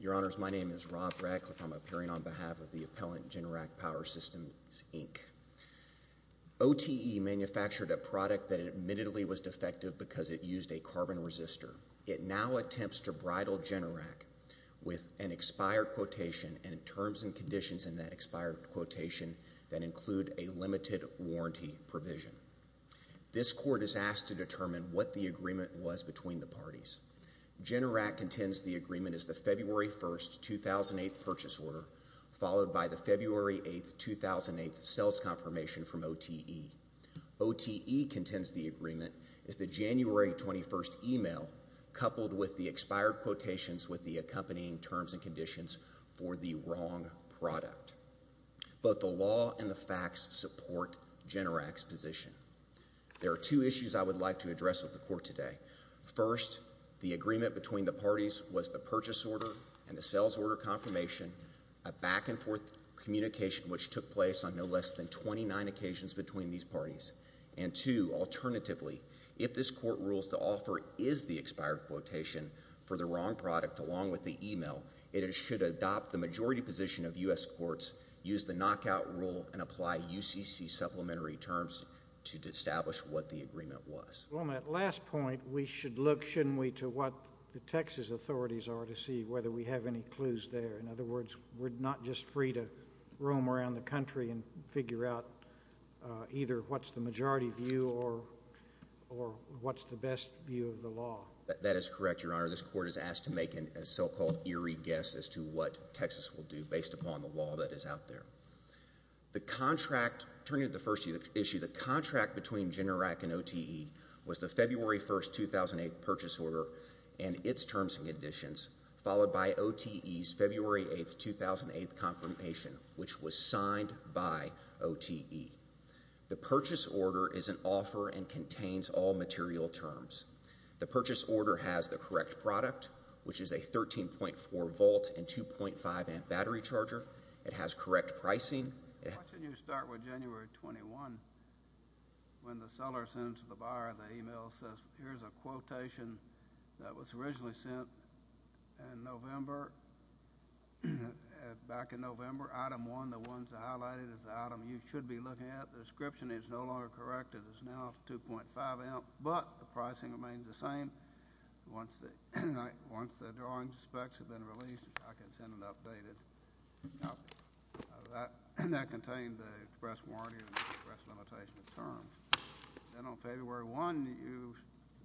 Your Honors, my name is Rob Radcliffe. I'm appearing on behalf of the appellant Generac Power Systems, Inc. OTE manufactured a product that admittedly was defective because it used a carbon resistor. It now attempts to bridle Generac with an expired quotation and terms and conditions in that expired quotation that include a limited warranty provision. This court is asked to determine what the agreement was between the parties. Generac contends the agreement is the February 1, 2008 purchase order followed by the February 8, 2008 sales confirmation from OTE. OTE contends the agreement is the January 21 email coupled with the expired quotations with the accompanying terms and conditions for the wrong product. Both the law and the facts support Generac's position. There are two issues I would like to address with the court today. First, the agreement between the parties was the purchase order and the sales order confirmation, a back-and-forth communication which took place on no less than 29 occasions between these parties. And two, alternatively, if this court rules the offer is the expired quotation for the wrong product along with the email, it should adopt the majority position of U.S. courts, use the knockout rule, and apply UCC supplementary terms to establish what the agreement was. Well, on that last point, we should look, shouldn't we, to what the Texas authorities are to see whether we have any clues there. In other words, we're not just free to roam around the country and figure out either what's the majority view or what's the best view of the law. That is correct, Your Honor. This court is asked to make a so-called eerie guess as to what Texas will do based upon the law that is out there. The contract, turning to the first issue, the contract between Generac and OTE was the February 1st, 2008 purchase order and its terms and conditions followed by OTE's February 8th, 2008 confirmation, which was signed by OTE. The purchase order is an offer and contains all material terms. The purchase order has the correct product, which is a 13.4 volt and 2.5 amp battery charger. It has correct pricing. Why don't you start with January 21? When the seller sends it to the buyer, the email says, here's a quotation that was originally sent in November, back in November. Item 1, the one that's highlighted, is the item you should be looking at. The description is no longer correct. It is now 2.5 amp, but the pricing remains the same. Once the drawing specs have been released, I can send an updated. That contained the express warranty and express limitation of terms. Then on February 1, the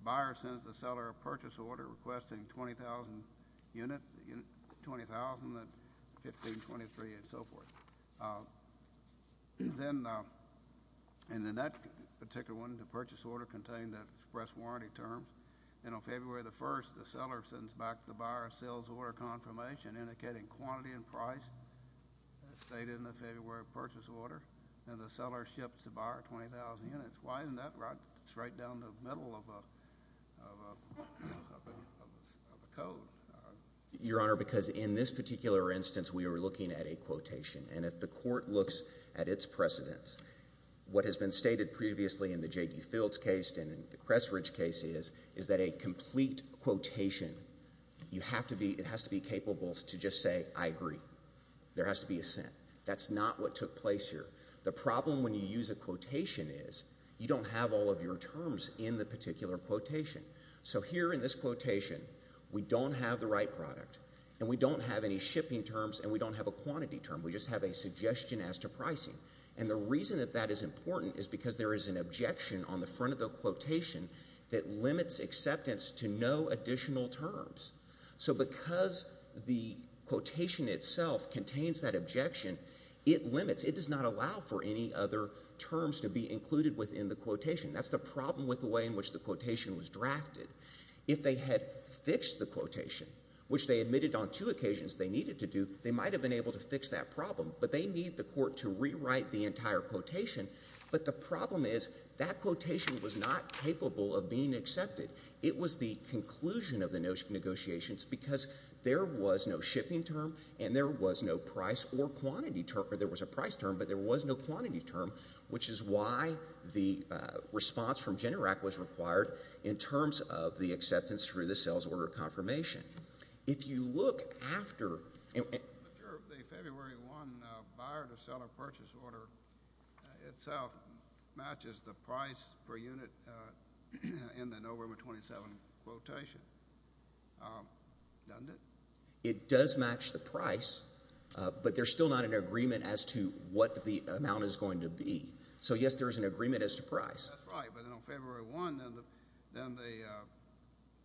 buyer sends the seller a purchase order requesting 20,000 units, 20,000 at 1523 and so forth. Then in that particular one, the purchase order contained the express warranty terms. Then on February 1, the seller sends back the buyer a sales order confirmation indicating quantity and price as stated in the February purchase order, and the seller ships the buyer 20,000 units. Why isn't that right straight down the middle of a code? Your Honor, because in this particular instance, we were looking at a quotation, and if the court looks at its precedents, what has been stated previously in the J.D. Fields case and in the Cressridge case is that a complete quotation, it has to be capable to just say, I agree. There has to be a sent. That's not what took place here. The problem when you use a quotation is you don't have all of your terms in the particular quotation. So here in this quotation, we don't have the right product, and we don't have any shipping terms, and we don't have a quantity term. We just have a suggestion as to pricing, and the reason that that is important is because there is an objection on the front of the quotation that limits acceptance to no additional terms. So because the quotation itself contains that objection, it limits. It does not allow for any other terms to be included within the quotation. That's the problem with the way in which the quotation was drafted. If they had fixed the quotation, which they admitted on two occasions they needed to do, they might have been able to fix that problem, but they need the court to rewrite the entire quotation. But the problem is that quotation was not capable of being accepted. It was the conclusion of the negotiations because there was no shipping term and there was no price or quantity term. There was a price term, but there was no quantity term, which is why the response from GENERAC was required in terms of the acceptance through the sales order confirmation. If you look after The February 1 buyer-to-seller purchase order itself matches the price per unit in the November 27 quotation, doesn't it? It does match the price, but there's still not an agreement as to what the amount is going to be. So, yes, there is an agreement as to price. That's right, but on February 1, then the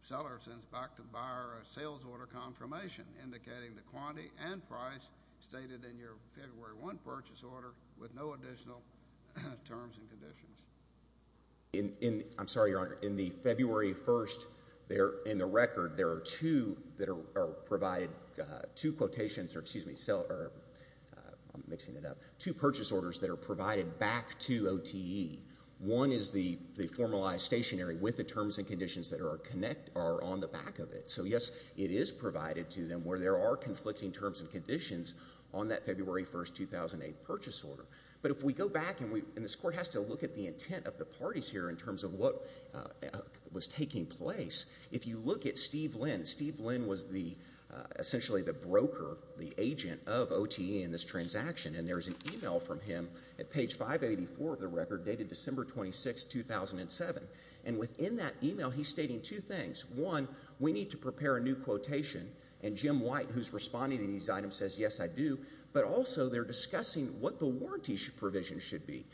seller sends back to the buyer a sales order confirmation indicating the quantity and price stated in your February 1 purchase order with no additional terms and conditions. I'm sorry, Your Honor. In the February 1, in the record, there are two that are provided, two quotations, or excuse me, I'm mixing it up, two purchase orders that are provided back to OTE. One is the formalized stationary with the terms and conditions that are on the back of it. So, yes, it is provided to them where there are conflicting terms and conditions on that February 1, 2008 purchase order. But if we go back, and this Court has to look at the intent of the parties here in terms of what was taking place, if you look at Steve Lynn, Steve Lynn was essentially the broker, the agent of OTE in this transaction, and there's an email from him at page 584 of the record dated December 26, 2007. And within that email, he's stating two things. One, we need to prepare a new quotation, and Jim White, who's responding to these items, says, yes, I do. But also, they're discussing what the warranty provision should be.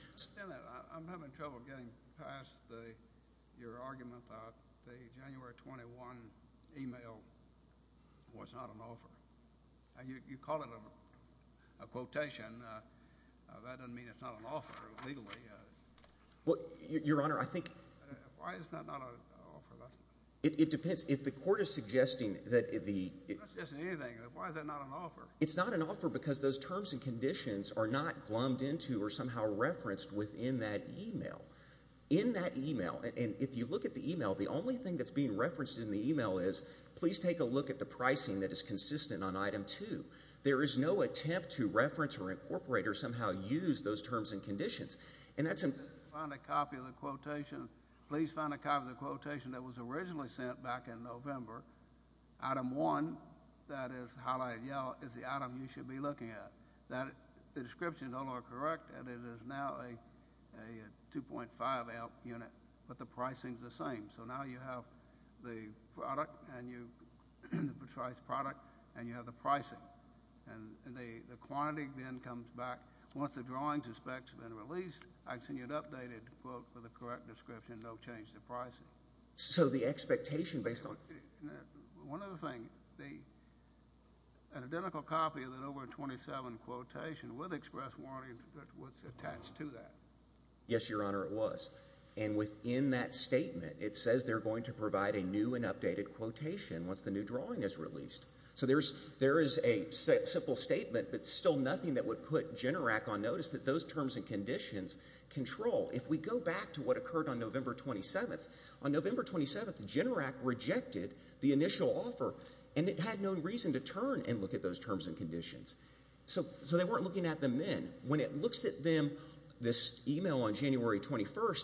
I'm having trouble getting past your argument about the January 21 email was not an offer. You call it a quotation. That doesn't mean it's not an offer legally. Well, Your Honor, I think— Why is that not an offer? It depends. If the Court is suggesting that the— It's not suggesting anything. Why is that not an offer? It's not an offer because those terms and conditions are not glummed into or somehow referenced within that email. In that email, and if you look at the email, the only thing that's being referenced in the email is, please take a look at the pricing that is consistent on Item 2. There is no attempt to reference or incorporate or somehow use those terms and conditions. And that's— Find a copy of the quotation. Please find a copy of the quotation that was originally sent back in November. Item 1, that is highlighted yellow, is the item you should be looking at. The descriptions all are correct, and it is now a 2.5-ounce unit, but the pricing's the same. So now you have the product, and you—the price product, and you have the pricing. And the quantity then comes back. Once the drawings and specs have been released, I'd send you an updated quote for the correct description. Don't change the pricing. So the expectation based on— One other thing. An identical copy of that November 27 quotation with express warranty was attached to that. Yes, Your Honor, it was. And within that statement, it says they're going to provide a new and updated quotation once the new drawing is released. So there is a simple statement, but still nothing that would put GENERAC on notice that those terms and conditions control. If we go back to what occurred on November 27, on November 27, GENERAC rejected the initial offer, and it had no reason to turn and look at those terms and conditions. So they weren't looking at them then. When it looks at them, this email on January 21,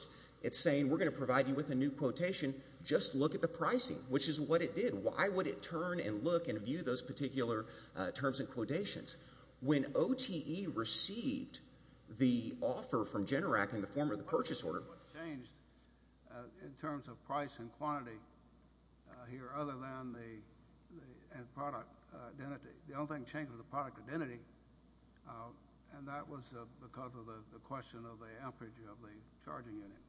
it's saying we're going to provide you with a new quotation. Just look at the pricing, which is what it did. Why would it turn and look and view those particular terms and quotations? When OTE received the offer from GENERAC in the form of the purchase order— One thing that changed in terms of price and quantity here other than the—and product identity. The only thing that changed was the product identity, and that was because of the question of the amperage of the charging unit.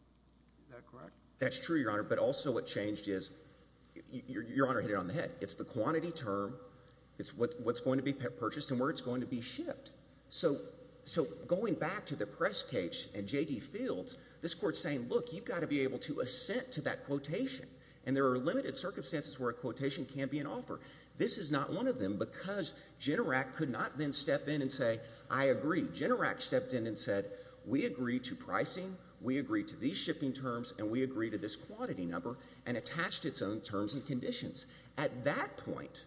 Is that correct? That's true, Your Honor, but also what changed is—Your Honor hit it on the head. It's the quantity term. It's what's going to be purchased and where it's going to be shipped. So going back to the press cage and J.D. Fields, this Court is saying, look, you've got to be able to assent to that quotation, and there are limited circumstances where a quotation can be an offer. This is not one of them because GENERAC could not then step in and say, I agree. GENERAC stepped in and said, we agree to pricing, we agree to these shipping terms, and we agree to this quantity number, and attached its own terms and conditions. At that point,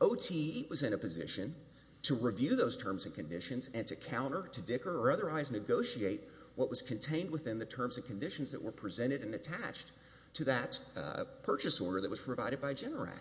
OTE was in a position to review those terms and conditions and to counter, to dicker, or otherwise negotiate what was contained within the terms and conditions that were presented and attached to that purchase order that was provided by GENERAC.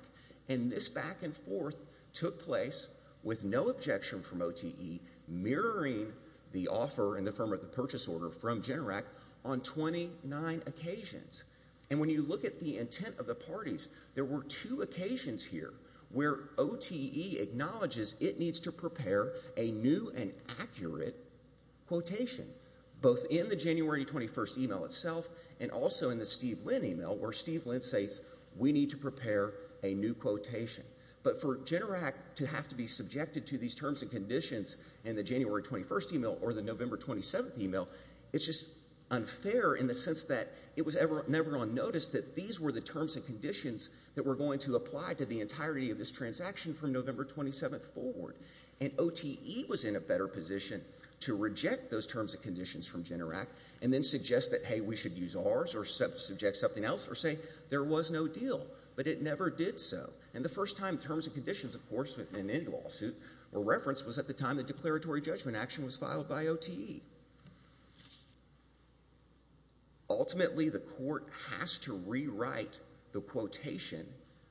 And this back and forth took place with no objection from OTE, mirroring the offer in the form of the purchase order from GENERAC on 29 occasions. And when you look at the intent of the parties, there were two occasions here where OTE acknowledges it needs to prepare a new and accurate quotation, both in the January 21 email itself and also in the Steve Lynn email, where Steve Lynn states, we need to prepare a new quotation. But for GENERAC to have to be subjected to these terms and conditions in the January 21 email or the November 27 email, it's just unfair in the sense that it was never going to notice that these were the terms and conditions that were going to apply to the entirety of this transaction from November 27 forward. And OTE was in a better position to reject those terms and conditions from GENERAC and then suggest that, hey, we should use ours or subject something else or say there was no deal. But it never did so. And the first time terms and conditions, of course, within any lawsuit were referenced was at the time the declaratory judgment action was filed by OTE. Ultimately, the court has to rewrite the quotation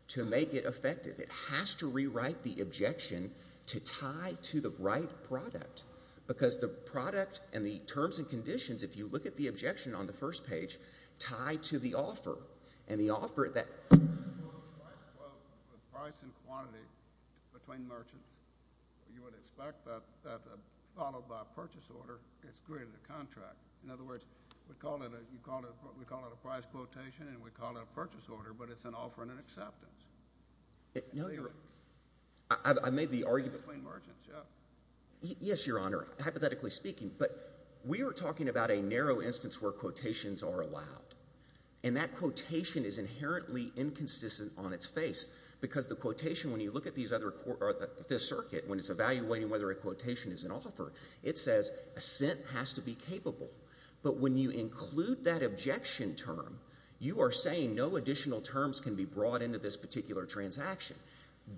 to make it effective. It has to rewrite the objection to tie to the right product because the product and the terms and conditions, if you look at the objection on the first page, tie to the offer, and the offer at that point. Well, the price and quantity between merchants, you would expect that, followed by a purchase order, it's greater than the contract. In other words, we call it a price quotation and we call it a purchase order, but it's an offer and an acceptance. No, I made the argument. Between merchants, yeah. Yes, Your Honor, hypothetically speaking, but we are talking about a narrow instance where quotations are allowed. And that quotation is inherently inconsistent on its face because the quotation, when you look at this circuit, when it's evaluating whether a quotation is an offer, it says a cent has to be capable. But when you include that objection term, you are saying no additional terms can be brought into this particular transaction.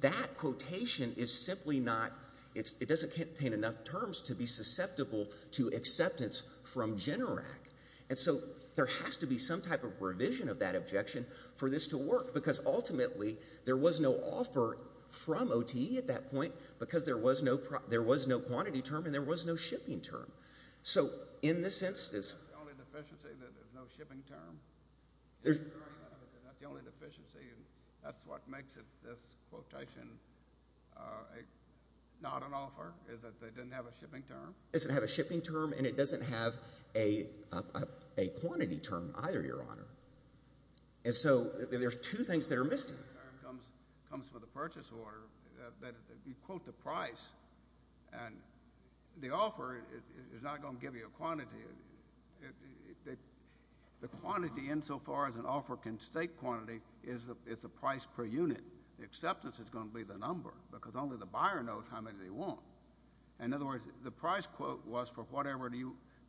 That quotation is simply not, it doesn't contain enough terms to be susceptible to acceptance from GENERAC. And so there has to be some type of revision of that objection for this to work because ultimately there was no offer from OTE at that point because there was no quantity term and there was no shipping term. So in this sense, it's— That's the only deficiency, that there's no shipping term. That's the only deficiency and that's what makes this quotation not an offer, is that they didn't have a shipping term. It doesn't have a shipping term and it doesn't have a quantity term either, Your Honor. And so there's two things that are missing. The shipping term comes from the purchase order. You quote the price and the offer is not going to give you a quantity. The quantity insofar as an offer can stake quantity is the price per unit. The acceptance is going to be the number because only the buyer knows how many they want. In other words, the price quote was for whatever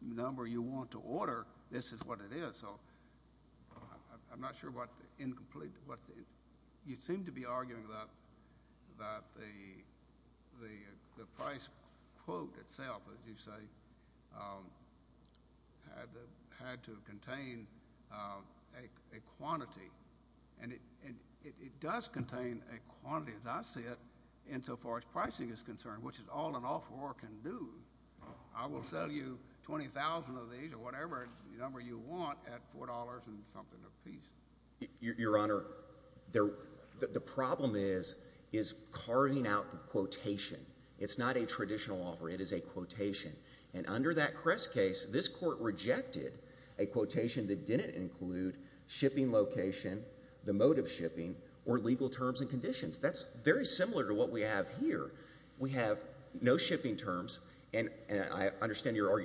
number you want to order, this is what it is. So I'm not sure what the incomplete— You seem to be arguing that the price quote itself, as you say, had to contain a quantity. And it does contain a quantity, as I see it, insofar as pricing is concerned, which is all an offeror can do. I will sell you 20,000 of these or whatever number you want at $4 and something apiece. Your Honor, the problem is is carving out the quotation. It is a quotation. And under that Crest case, this Court rejected a quotation that didn't include shipping location, the mode of shipping, or legal terms and conditions. That's very similar to what we have here. We have no shipping terms, and I understand Your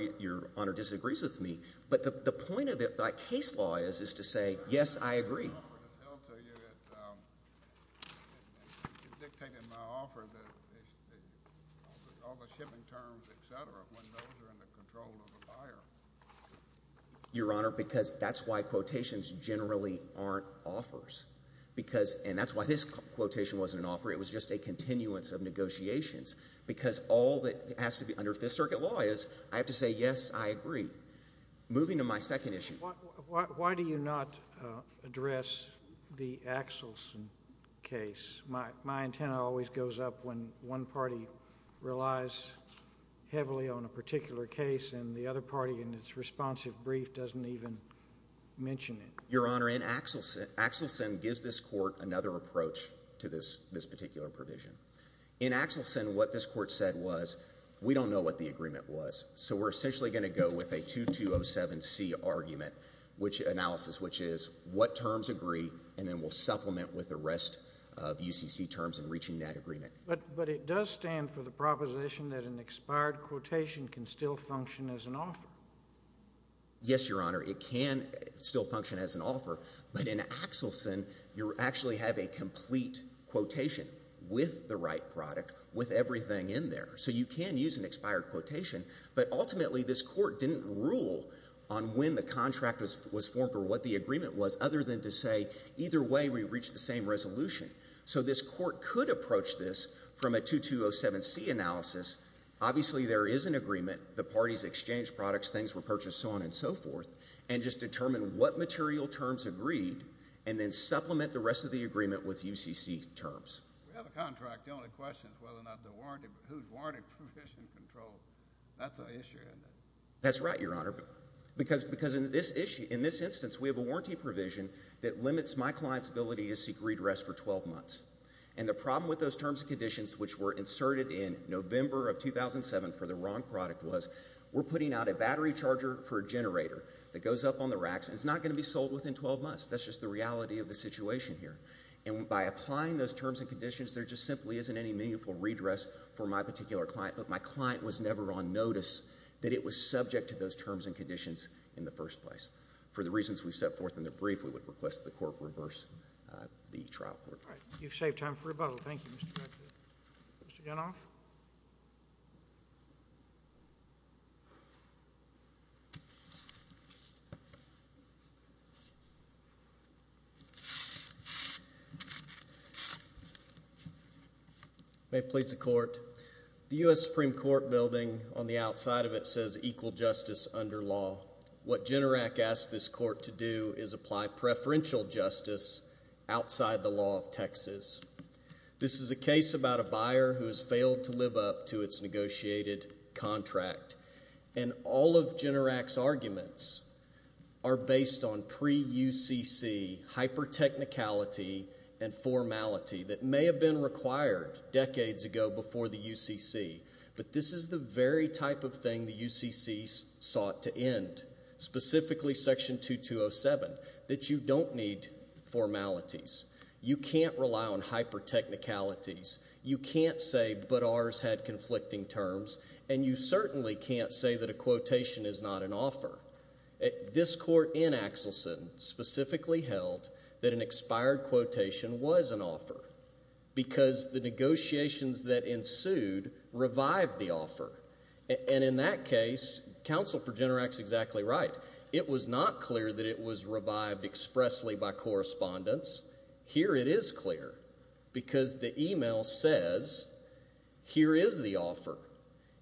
Honor disagrees with me, but the point of it by case law is to say, yes, I agree. The number that's held to you, it dictated my offer, all the shipping terms, etc., when those are in the control of the buyer. Your Honor, because that's why quotations generally aren't offers. Because—and that's why this quotation wasn't an offer. It was just a continuance of negotiations. Because all that has to be—under Fifth Circuit law is I have to say, yes, I agree. Moving to my second issue. Why do you not address the Axelson case? My antenna always goes up when one party relies heavily on a particular case and the other party in its responsive brief doesn't even mention it. Your Honor, Axelson gives this Court another approach to this particular provision. In Axelson, what this Court said was, we don't know what the agreement was, so we're essentially going to go with a 2207C argument analysis, which is what terms agree and then we'll supplement with the rest of UCC terms in reaching that agreement. But it does stand for the proposition that an expired quotation can still function as an offer. Yes, Your Honor. It can still function as an offer. But in Axelson, you actually have a complete quotation with the right product, with everything in there. So you can use an expired quotation. But ultimately, this Court didn't rule on when the contract was formed or what the agreement was other than to say either way we reached the same resolution. So this Court could approach this from a 2207C analysis. Obviously, there is an agreement. The parties exchanged products, things were purchased, so on and so forth, and just determine what material terms agreed and then supplement the rest of the agreement with UCC terms. We have a contract. The only question is whether or not the warranty provision control. That's an issue, isn't it? That's right, Your Honor. Because in this instance, we have a warranty provision that limits my client's ability to seek redress for 12 months. And the problem with those terms and conditions, which were inserted in November of 2007 for the wrong product, was we're putting out a battery charger for a generator that goes up on the racks and it's not going to be sold within 12 months. That's just the reality of the situation here. And by applying those terms and conditions, there just simply isn't any meaningful redress for my particular client, but my client was never on notice that it was subject to those terms and conditions in the first place. For the reasons we've set forth in the brief, we would request that the Court reverse the trial court. All right. You've saved time for rebuttal. Thank you, Mr. McNeil. Mr. Gunoff? May it please the Court. The U.S. Supreme Court building on the outside of it says equal justice under law. What GENERAC asked this Court to do is apply preferential justice outside the law of Texas. This is a case about a buyer who has failed to live up to its negotiated contract. And all of GENERAC's arguments are based on pre-UCC hypertechnicality and formality that may have been required decades ago before the UCC. But this is the very type of thing the UCC sought to end, specifically Section 2207, that you don't need formalities. You can't rely on hypertechnicalities. You can't say, but ours had conflicting terms. And you certainly can't say that a quotation is not an offer. This Court in Axelson specifically held that an expired quotation was an offer because the negotiations that ensued revived the offer. And in that case, counsel for GENERAC is exactly right. It was not clear that it was revived expressly by correspondence. Here it is clear because the email says here is the offer.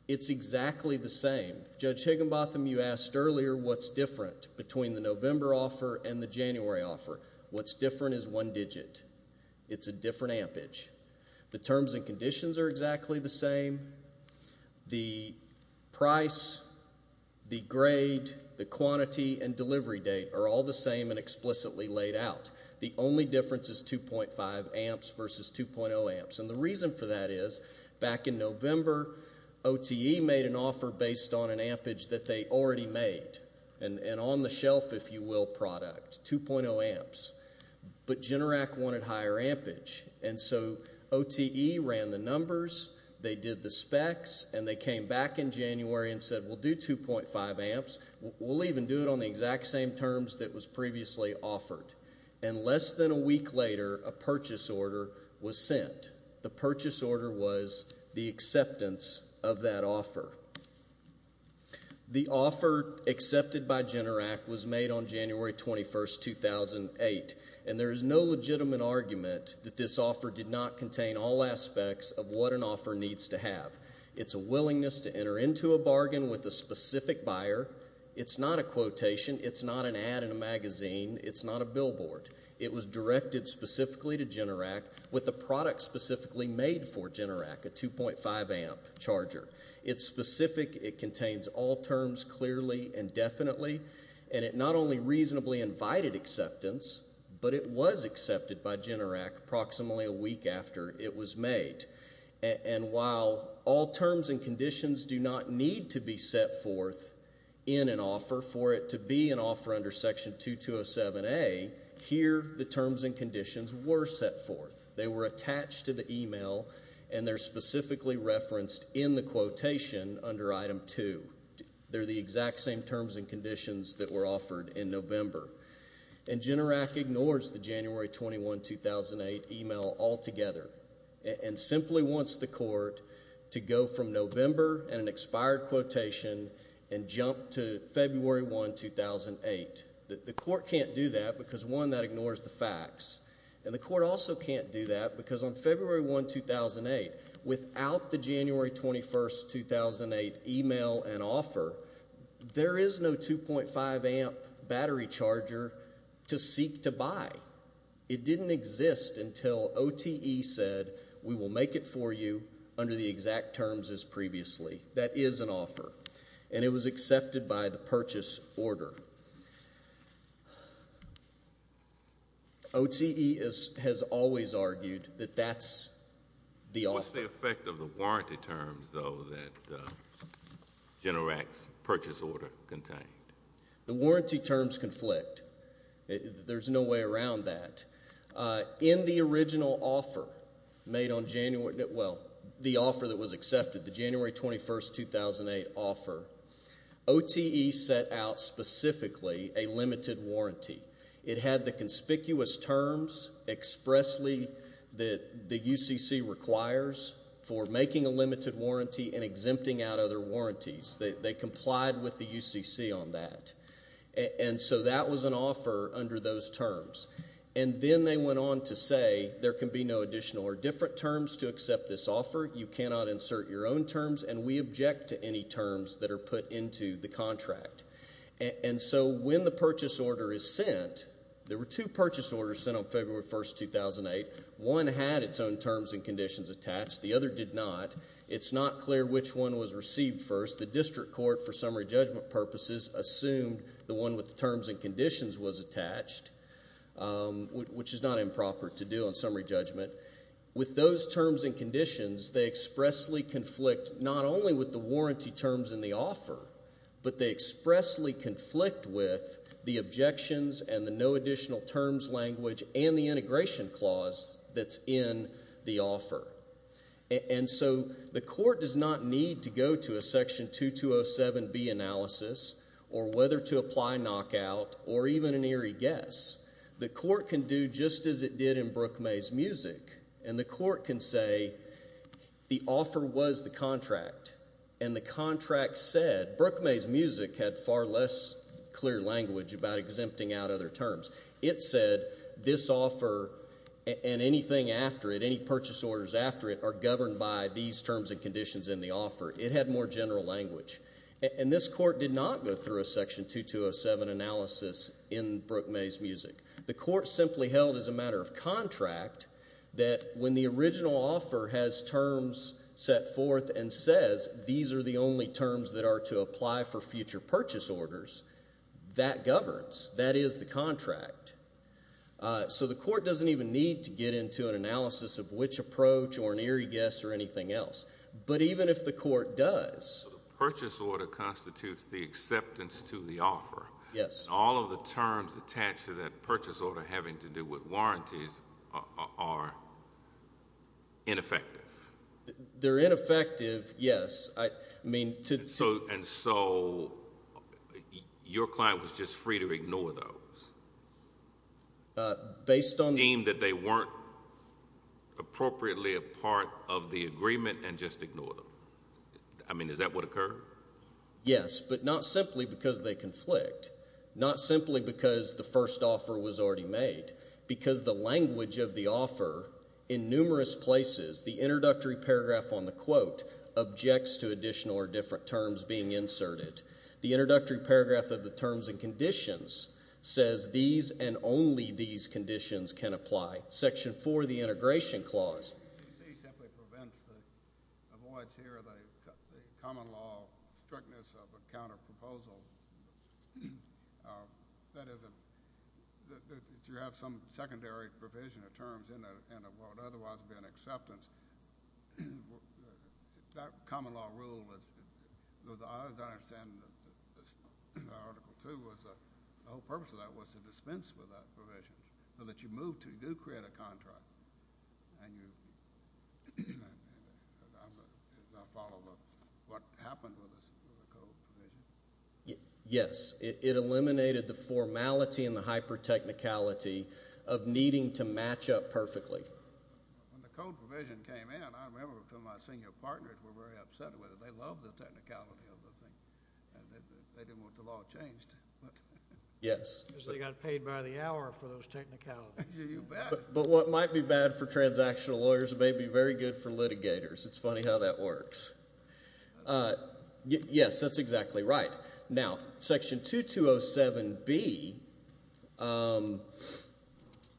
It's exactly the same. Judge Higginbotham, you asked earlier what's different between the November offer and the January offer. What's different is one digit. It's a different ampage. The terms and conditions are exactly the same. The price, the grade, the quantity, and delivery date are all the same and explicitly laid out. The only difference is 2.5 amps versus 2.0 amps. And the reason for that is back in November, OTE made an offer based on an ampage that they already made and on-the-shelf, if you will, product, 2.0 amps. But GENERAC wanted higher ampage. And so OTE ran the numbers, they did the specs, and they came back in January and said we'll do 2.5 amps. We'll even do it on the exact same terms that was previously offered. And less than a week later, a purchase order was sent. The purchase order was the acceptance of that offer. The offer accepted by GENERAC was made on January 21, 2008, and there is no legitimate argument that this offer did not contain all aspects of what an offer needs to have. It's a willingness to enter into a bargain with a specific buyer. It's not a quotation. It's not an ad in a magazine. It's not a billboard. It was directed specifically to GENERAC with a product specifically made for GENERAC, a 2.5-amp charger. It's specific. It contains all terms clearly and definitely. And it not only reasonably invited acceptance, but it was accepted by GENERAC approximately a week after it was made. And while all terms and conditions do not need to be set forth in an offer, for it to be an offer under Section 2207A, here the terms and conditions were set forth. They were attached to the email, and they're specifically referenced in the quotation under Item 2. They're the exact same terms and conditions that were offered in November. And GENERAC ignores the January 21, 2008 email altogether and simply wants the court to go from November and an expired quotation and jump to February 1, 2008. The court can't do that because, one, that ignores the facts. And the court also can't do that because on February 1, 2008, without the January 21, 2008 email and offer, there is no 2.5-amp battery charger to seek to buy. It didn't exist until OTE said, We will make it for you under the exact terms as previously. That is an offer, and it was accepted by the purchase order. OTE has always argued that that's the offer. What's the effect of the warranty terms, though, that GENERAC's purchase order contained? The warranty terms conflict. There's no way around that. In the original offer that was accepted, the January 21, 2008 offer, OTE set out specifically a limited warranty. It had the conspicuous terms expressly that the UCC requires for making a limited warranty and exempting out other warranties. They complied with the UCC on that. And so that was an offer under those terms. And then they went on to say there can be no additional or different terms to accept this offer. You cannot insert your own terms, and we object to any terms that are put into the contract. And so when the purchase order is sent, there were two purchase orders sent on February 1, 2008. One had its own terms and conditions attached. The other did not. It's not clear which one was received first. The district court, for summary judgment purposes, assumed the one with the terms and conditions was attached, which is not improper to do on summary judgment. With those terms and conditions, they expressly conflict not only with the warranty terms in the offer, but they expressly conflict with the objections and the no additional terms language and the integration clause that's in the offer. And so the court does not need to go to a Section 2207B analysis or whether to apply knockout or even an eerie guess. The court can do just as it did in Brook-May's Music, and the court can say the offer was the contract, and the contract said Brook-May's Music had far less clear language about exempting out other terms. It said this offer and anything after it, any purchase orders after it, are governed by these terms and conditions in the offer. It had more general language. And this court did not go through a Section 2207 analysis in Brook-May's Music. The court simply held as a matter of contract that when the original offer has terms set forth and says these are the only terms that are to apply for future purchase orders, that governs, that is the contract. So the court doesn't even need to get into an analysis of which approach or an eerie guess or anything else. But even if the court does. So the purchase order constitutes the acceptance to the offer. Yes. And all of the terms attached to that purchase order having to do with warranties are ineffective. They're ineffective, yes. And so your client was just free to ignore those? Deem that they weren't appropriately a part of the agreement and just ignore them. I mean, is that what occurred? Yes, but not simply because they conflict. Not simply because the first offer was already made. Because the language of the offer in numerous places, the introductory paragraph on the quote, objects to additional or different terms being inserted. The introductory paragraph of the terms and conditions says these and only these conditions can apply. Section 4, the integration clause. The SEC simply avoids here the common law strictness of a counterproposal. That is, if you have some secondary provision of terms in what would otherwise be an acceptance, that common law rule was, as I understand in Article 2, the whole purpose of that was to dispense with that provision. So that you move to do create a contract. And you follow what happened with the code provision? Yes. It eliminated the formality and the hyper-technicality of needing to match up perfectly. When the code provision came in, I remember some of my senior partners were very upset with it. They loved the technicality of the thing. They didn't want the law changed. Yes. Because they got paid by the hour for those technicalities. But what might be bad for transactional lawyers may be very good for litigators. It's funny how that works. Yes, that's exactly right. Now, Section 2207B,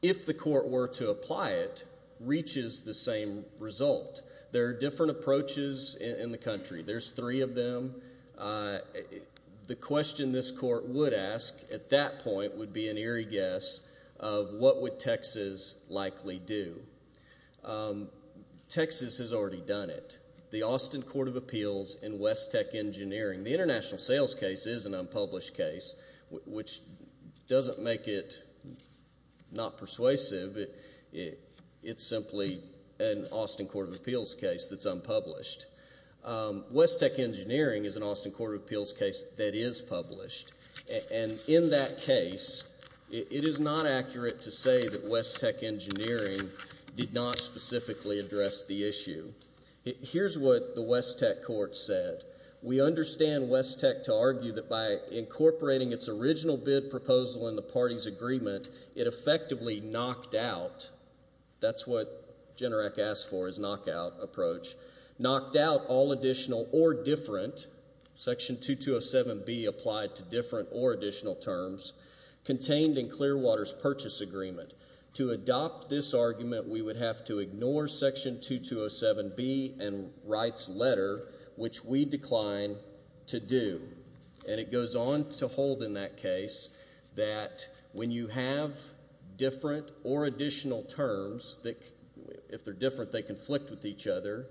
if the court were to apply it, reaches the same result. There are different approaches in the country. There's three of them. The question this court would ask at that point would be an eerie guess of what would Texas likely do. Texas has already done it. The Austin Court of Appeals in West Tech Engineering. The international sales case is an unpublished case, which doesn't make it not persuasive. It's simply an Austin Court of Appeals case that's unpublished. West Tech Engineering is an Austin Court of Appeals case that is published. And in that case, it is not accurate to say that West Tech Engineering did not specifically address the issue. Here's what the West Tech court said. We understand West Tech to argue that by incorporating its original bid proposal in the party's agreement, it effectively knocked out. That's what Generac asked for, is knockout approach. Knocked out all additional or different, Section 2207B applied to different or additional terms, contained in Clearwater's purchase agreement. To adopt this argument, we would have to ignore Section 2207B and Wright's letter, which we decline to do. And it goes on to hold in that case that when you have different or additional terms, if they're different, they conflict with each other,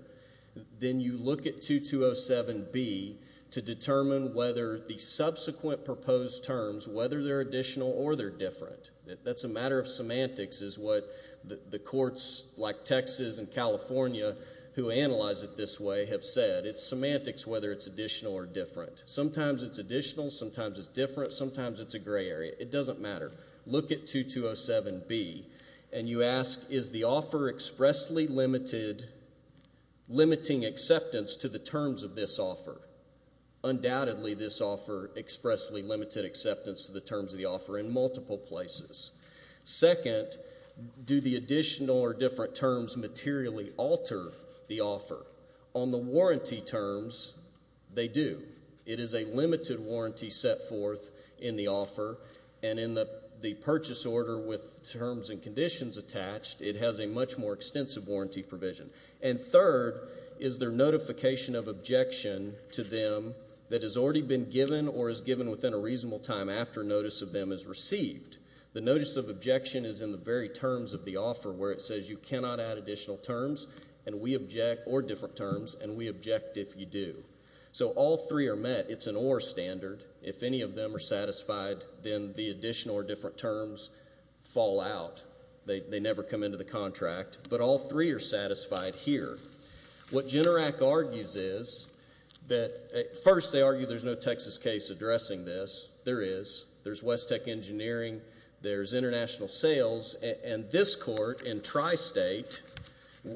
then you look at 2207B to determine whether the subsequent proposed terms, whether they're additional or they're different. That's a matter of semantics, is what the courts like Texas and California, who analyze it this way, have said. It's semantics whether it's additional or different. Sometimes it's additional, sometimes it's different, sometimes it's a gray area. It doesn't matter. Look at 2207B, and you ask, is the offer expressly limiting acceptance to the terms of this offer? Undoubtedly, this offer expressly limited acceptance to the terms of the offer in multiple places. Second, do the additional or different terms materially alter the offer? On the warranty terms, they do. It is a limited warranty set forth in the offer, and in the purchase order with terms and conditions attached, it has a much more extensive warranty provision. And third is their notification of objection to them that has already been given or is given within a reasonable time after notice of them is received. The notice of objection is in the very terms of the offer where it says you cannot add additional terms or different terms, and we object if you do. So all three are met. It's an OR standard. If any of them are satisfied, then the additional or different terms fall out. They never come into the contract. But all three are satisfied here. What GENERAC argues is that, first, they argue there's no Texas case addressing this. There is. There's West Tech Engineering. There's International Sales. And this court in tri-state,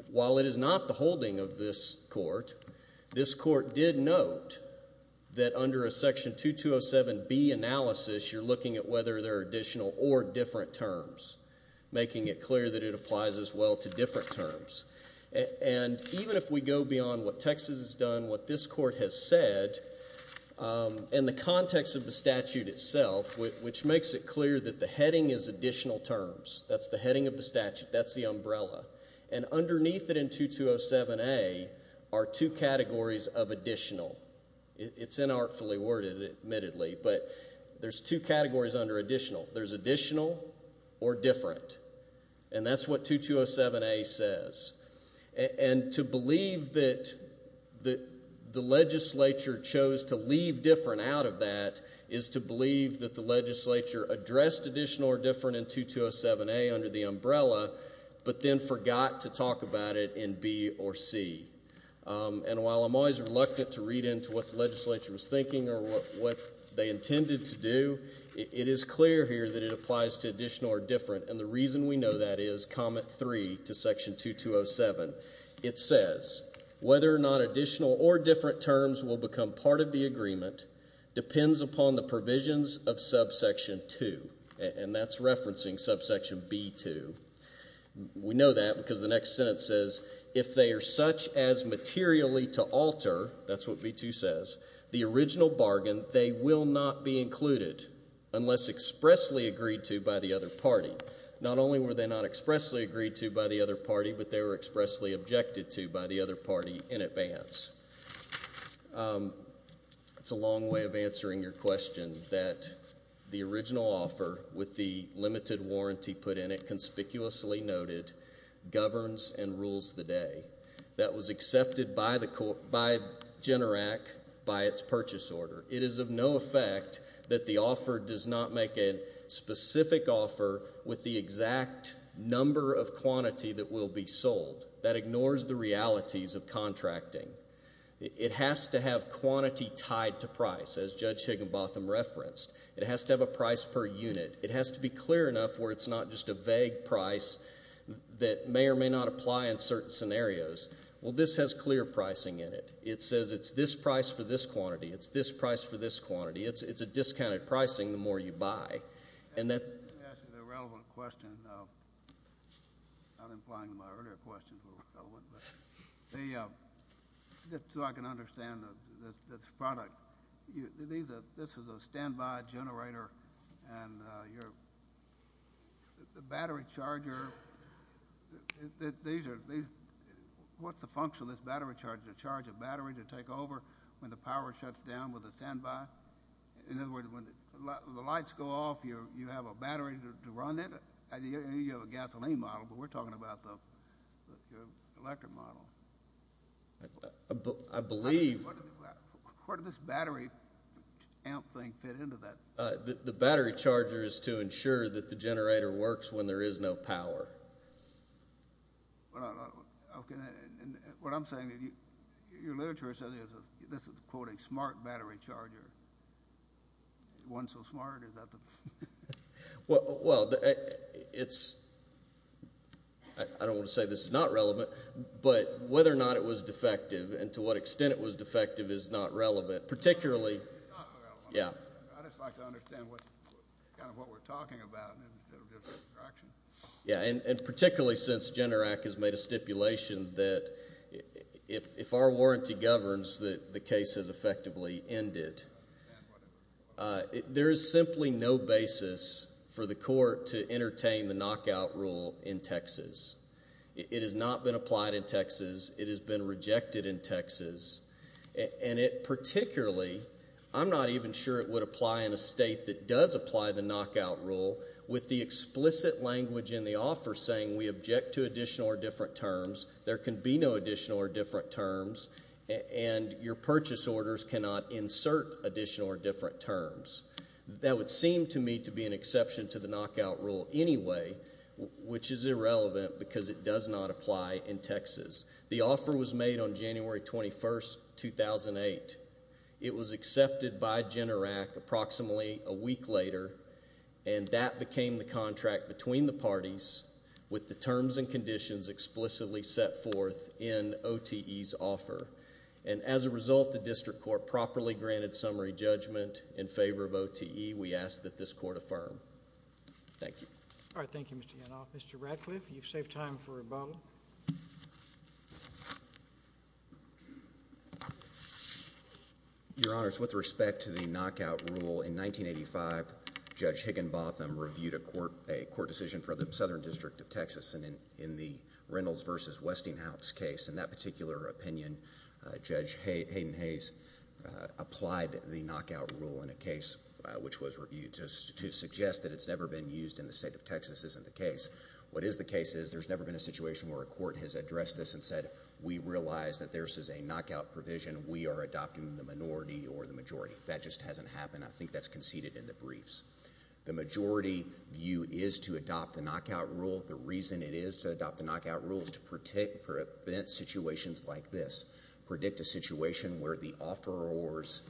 while it is not the holding of this court, this court did note that under a Section 2207B analysis, you're looking at whether there are additional or different terms, making it clear that it applies as well to different terms. And even if we go beyond what Texas has done, what this court has said in the context of the statute itself, which makes it clear that the heading is additional terms, that's the heading of the statute, that's the umbrella, and underneath it in 2207A are two categories of additional. It's inartfully worded, admittedly, but there's two categories under additional. There's additional or different. And that's what 2207A says. And to believe that the legislature chose to leave different out of that is to believe that the legislature addressed additional or different in 2207A under the umbrella, but then forgot to talk about it in B or C. And while I'm always reluctant to read into what the legislature was thinking or what they intended to do, it is clear here that it applies to additional or different. And the reason we know that is Comment 3 to Section 2207. It says, whether or not additional or different terms will become part of the agreement depends upon the provisions of Subsection 2. And that's referencing Subsection B-2. We know that because the next sentence says, if they are such as materially to alter, that's what B-2 says, the original bargain they will not be included unless expressly agreed to by the other party. Not only were they not expressly agreed to by the other party, but they were expressly objected to by the other party in advance. It's a long way of answering your question that the original offer with the limited warranty put in it, conspicuously noted, governs and rules the day. That was accepted by GENERAC by its purchase order. It is of no effect that the offer does not make a specific offer with the exact number of quantity that will be sold. That ignores the realities of contracting. It has to have quantity tied to price. As Judge Higginbotham referenced, it has to have a price per unit. It has to be clear enough where it's not just a vague price that may or may not apply in certain scenarios. Well, this has clear pricing in it. It says it's this price for this quantity. It's this price for this quantity. It's a discounted pricing the more you buy. To answer the relevant question, not implying my earlier question was relevant, but just so I can understand this product, this is a standby generator, and the battery charger, what's the function of this battery charger? To charge a battery to take over when the power shuts down with a standby? In other words, when the lights go off, you have a battery to run it? You have a gasoline model, but we're talking about the electric model. I believe. Where did this battery amp thing fit into that? The battery charger is to ensure that the generator works when there is no power. What I'm saying is your literature says this is a, quote, a smart battery charger. One so smart? Well, I don't want to say this is not relevant, but whether or not it was defective and to what extent it was defective is not relevant. I'd just like to understand kind of what we're talking about instead of just instructions. Yeah, and particularly since GENERAC has made a stipulation that if our warranty governs that the case has effectively ended, there is simply no basis for the court to entertain the knockout rule in Texas. It has not been applied in Texas. It has been rejected in Texas, and it particularly, I'm not even sure it would apply in a state that does apply the knockout rule with the explicit language in the offer saying we object to additional or different terms. There can be no additional or different terms, and your purchase orders cannot insert additional or different terms. That would seem to me to be an exception to the knockout rule anyway, which is irrelevant because it does not apply in Texas. The offer was made on January 21, 2008. It was accepted by GENERAC approximately a week later, and that became the contract between the parties with the terms and conditions explicitly set forth in OTE's offer. And as a result, the district court properly granted summary judgment in favor of OTE. We ask that this court affirm. Thank you. All right, thank you, Mr. Yanoff. Mr. Ratcliffe, you've saved time for rebuttal. Your Honors, with respect to the knockout rule, in 1985 Judge Higginbotham reviewed a court decision for the Southern District of Texas in the Reynolds v. Westinghouse case. In that particular opinion, Judge Hayden-Hayes applied the knockout rule in a case which was reviewed to suggest that it's never been used in the state of Texas. This isn't the case. What is the case is there's never been a situation where a court has addressed this and said we realize that this is a knockout provision. We are adopting the minority or the majority. That just hasn't happened. I think that's conceded in the briefs. The majority view is to adopt the knockout rule. The reason it is to adopt the knockout rule is to prevent situations like this, predict a situation where the offeror's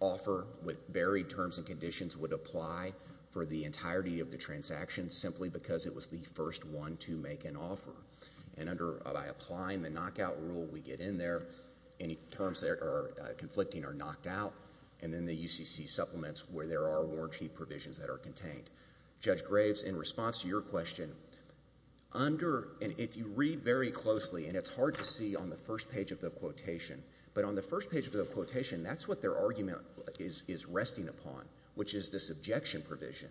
offer with varied terms and conditions would apply for the entirety of the transaction simply because it was the first one to make an offer. And by applying the knockout rule, we get in there. Any terms that are conflicting are knocked out, and then the UCC supplements where there are warranty provisions that are contained. Judge Graves, in response to your question, under and if you read very closely, and it's hard to see on the first page of the quotation, but on the first page of the quotation, that's what their argument is resting upon, which is this objection provision.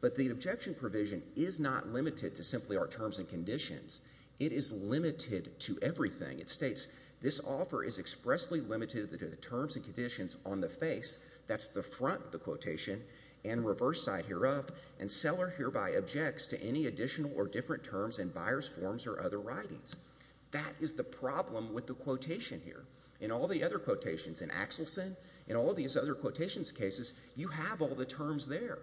But the objection provision is not limited to simply our terms and conditions. It is limited to everything. It states, this offer is expressly limited to the terms and conditions on the face, that's the front of the quotation, and reverse side hereof, and seller hereby objects to any additional or different terms in buyer's forms or other writings. That is the problem with the quotation here. In all the other quotations, in Axelson, in all these other quotations cases, you have all the terms there.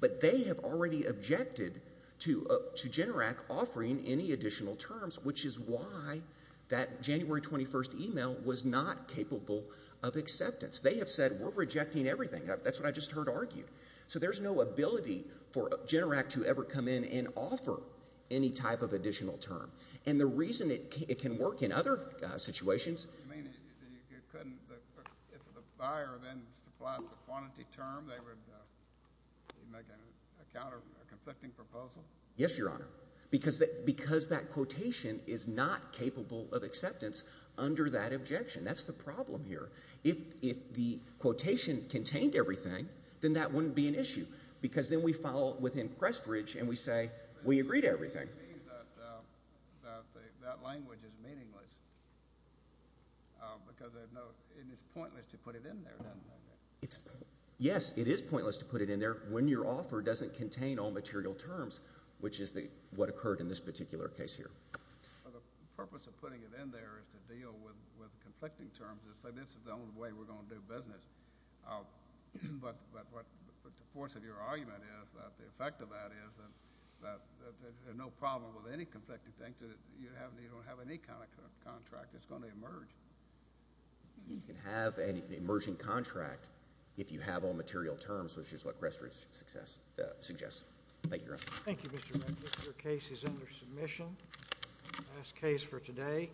But they have already objected to Generac offering any additional terms, which is why that January 21st email was not capable of acceptance. They have said, we're rejecting everything. That's what I just heard argued. So there's no ability for Generac to ever come in and offer any type of additional term. And the reason it can work in other situations. You mean you couldn't, if the buyer then supplied the quantity term, they would make a conflicting proposal? Yes, Your Honor. Because that quotation is not capable of acceptance under that objection. That's the problem here. If the quotation contained everything, then that wouldn't be an issue. Because then we follow within Prestridge, and we say, we agree to everything. That language is meaningless. Because it's pointless to put it in there. Yes, it is pointless to put it in there when your offer doesn't contain all material terms, which is what occurred in this particular case here. The purpose of putting it in there is to deal with conflicting terms and say this is the only way we're going to do business. But the force of your argument is that the effect of that is that there's no problem with any conflicting terms. You don't have any kind of contract that's going to emerge. You can have an emerging contract if you have all material terms, which is what Prestridge suggests. Thank you, Your Honor. Thank you, Mr. Medlick. Your case is under submission. Last case for today.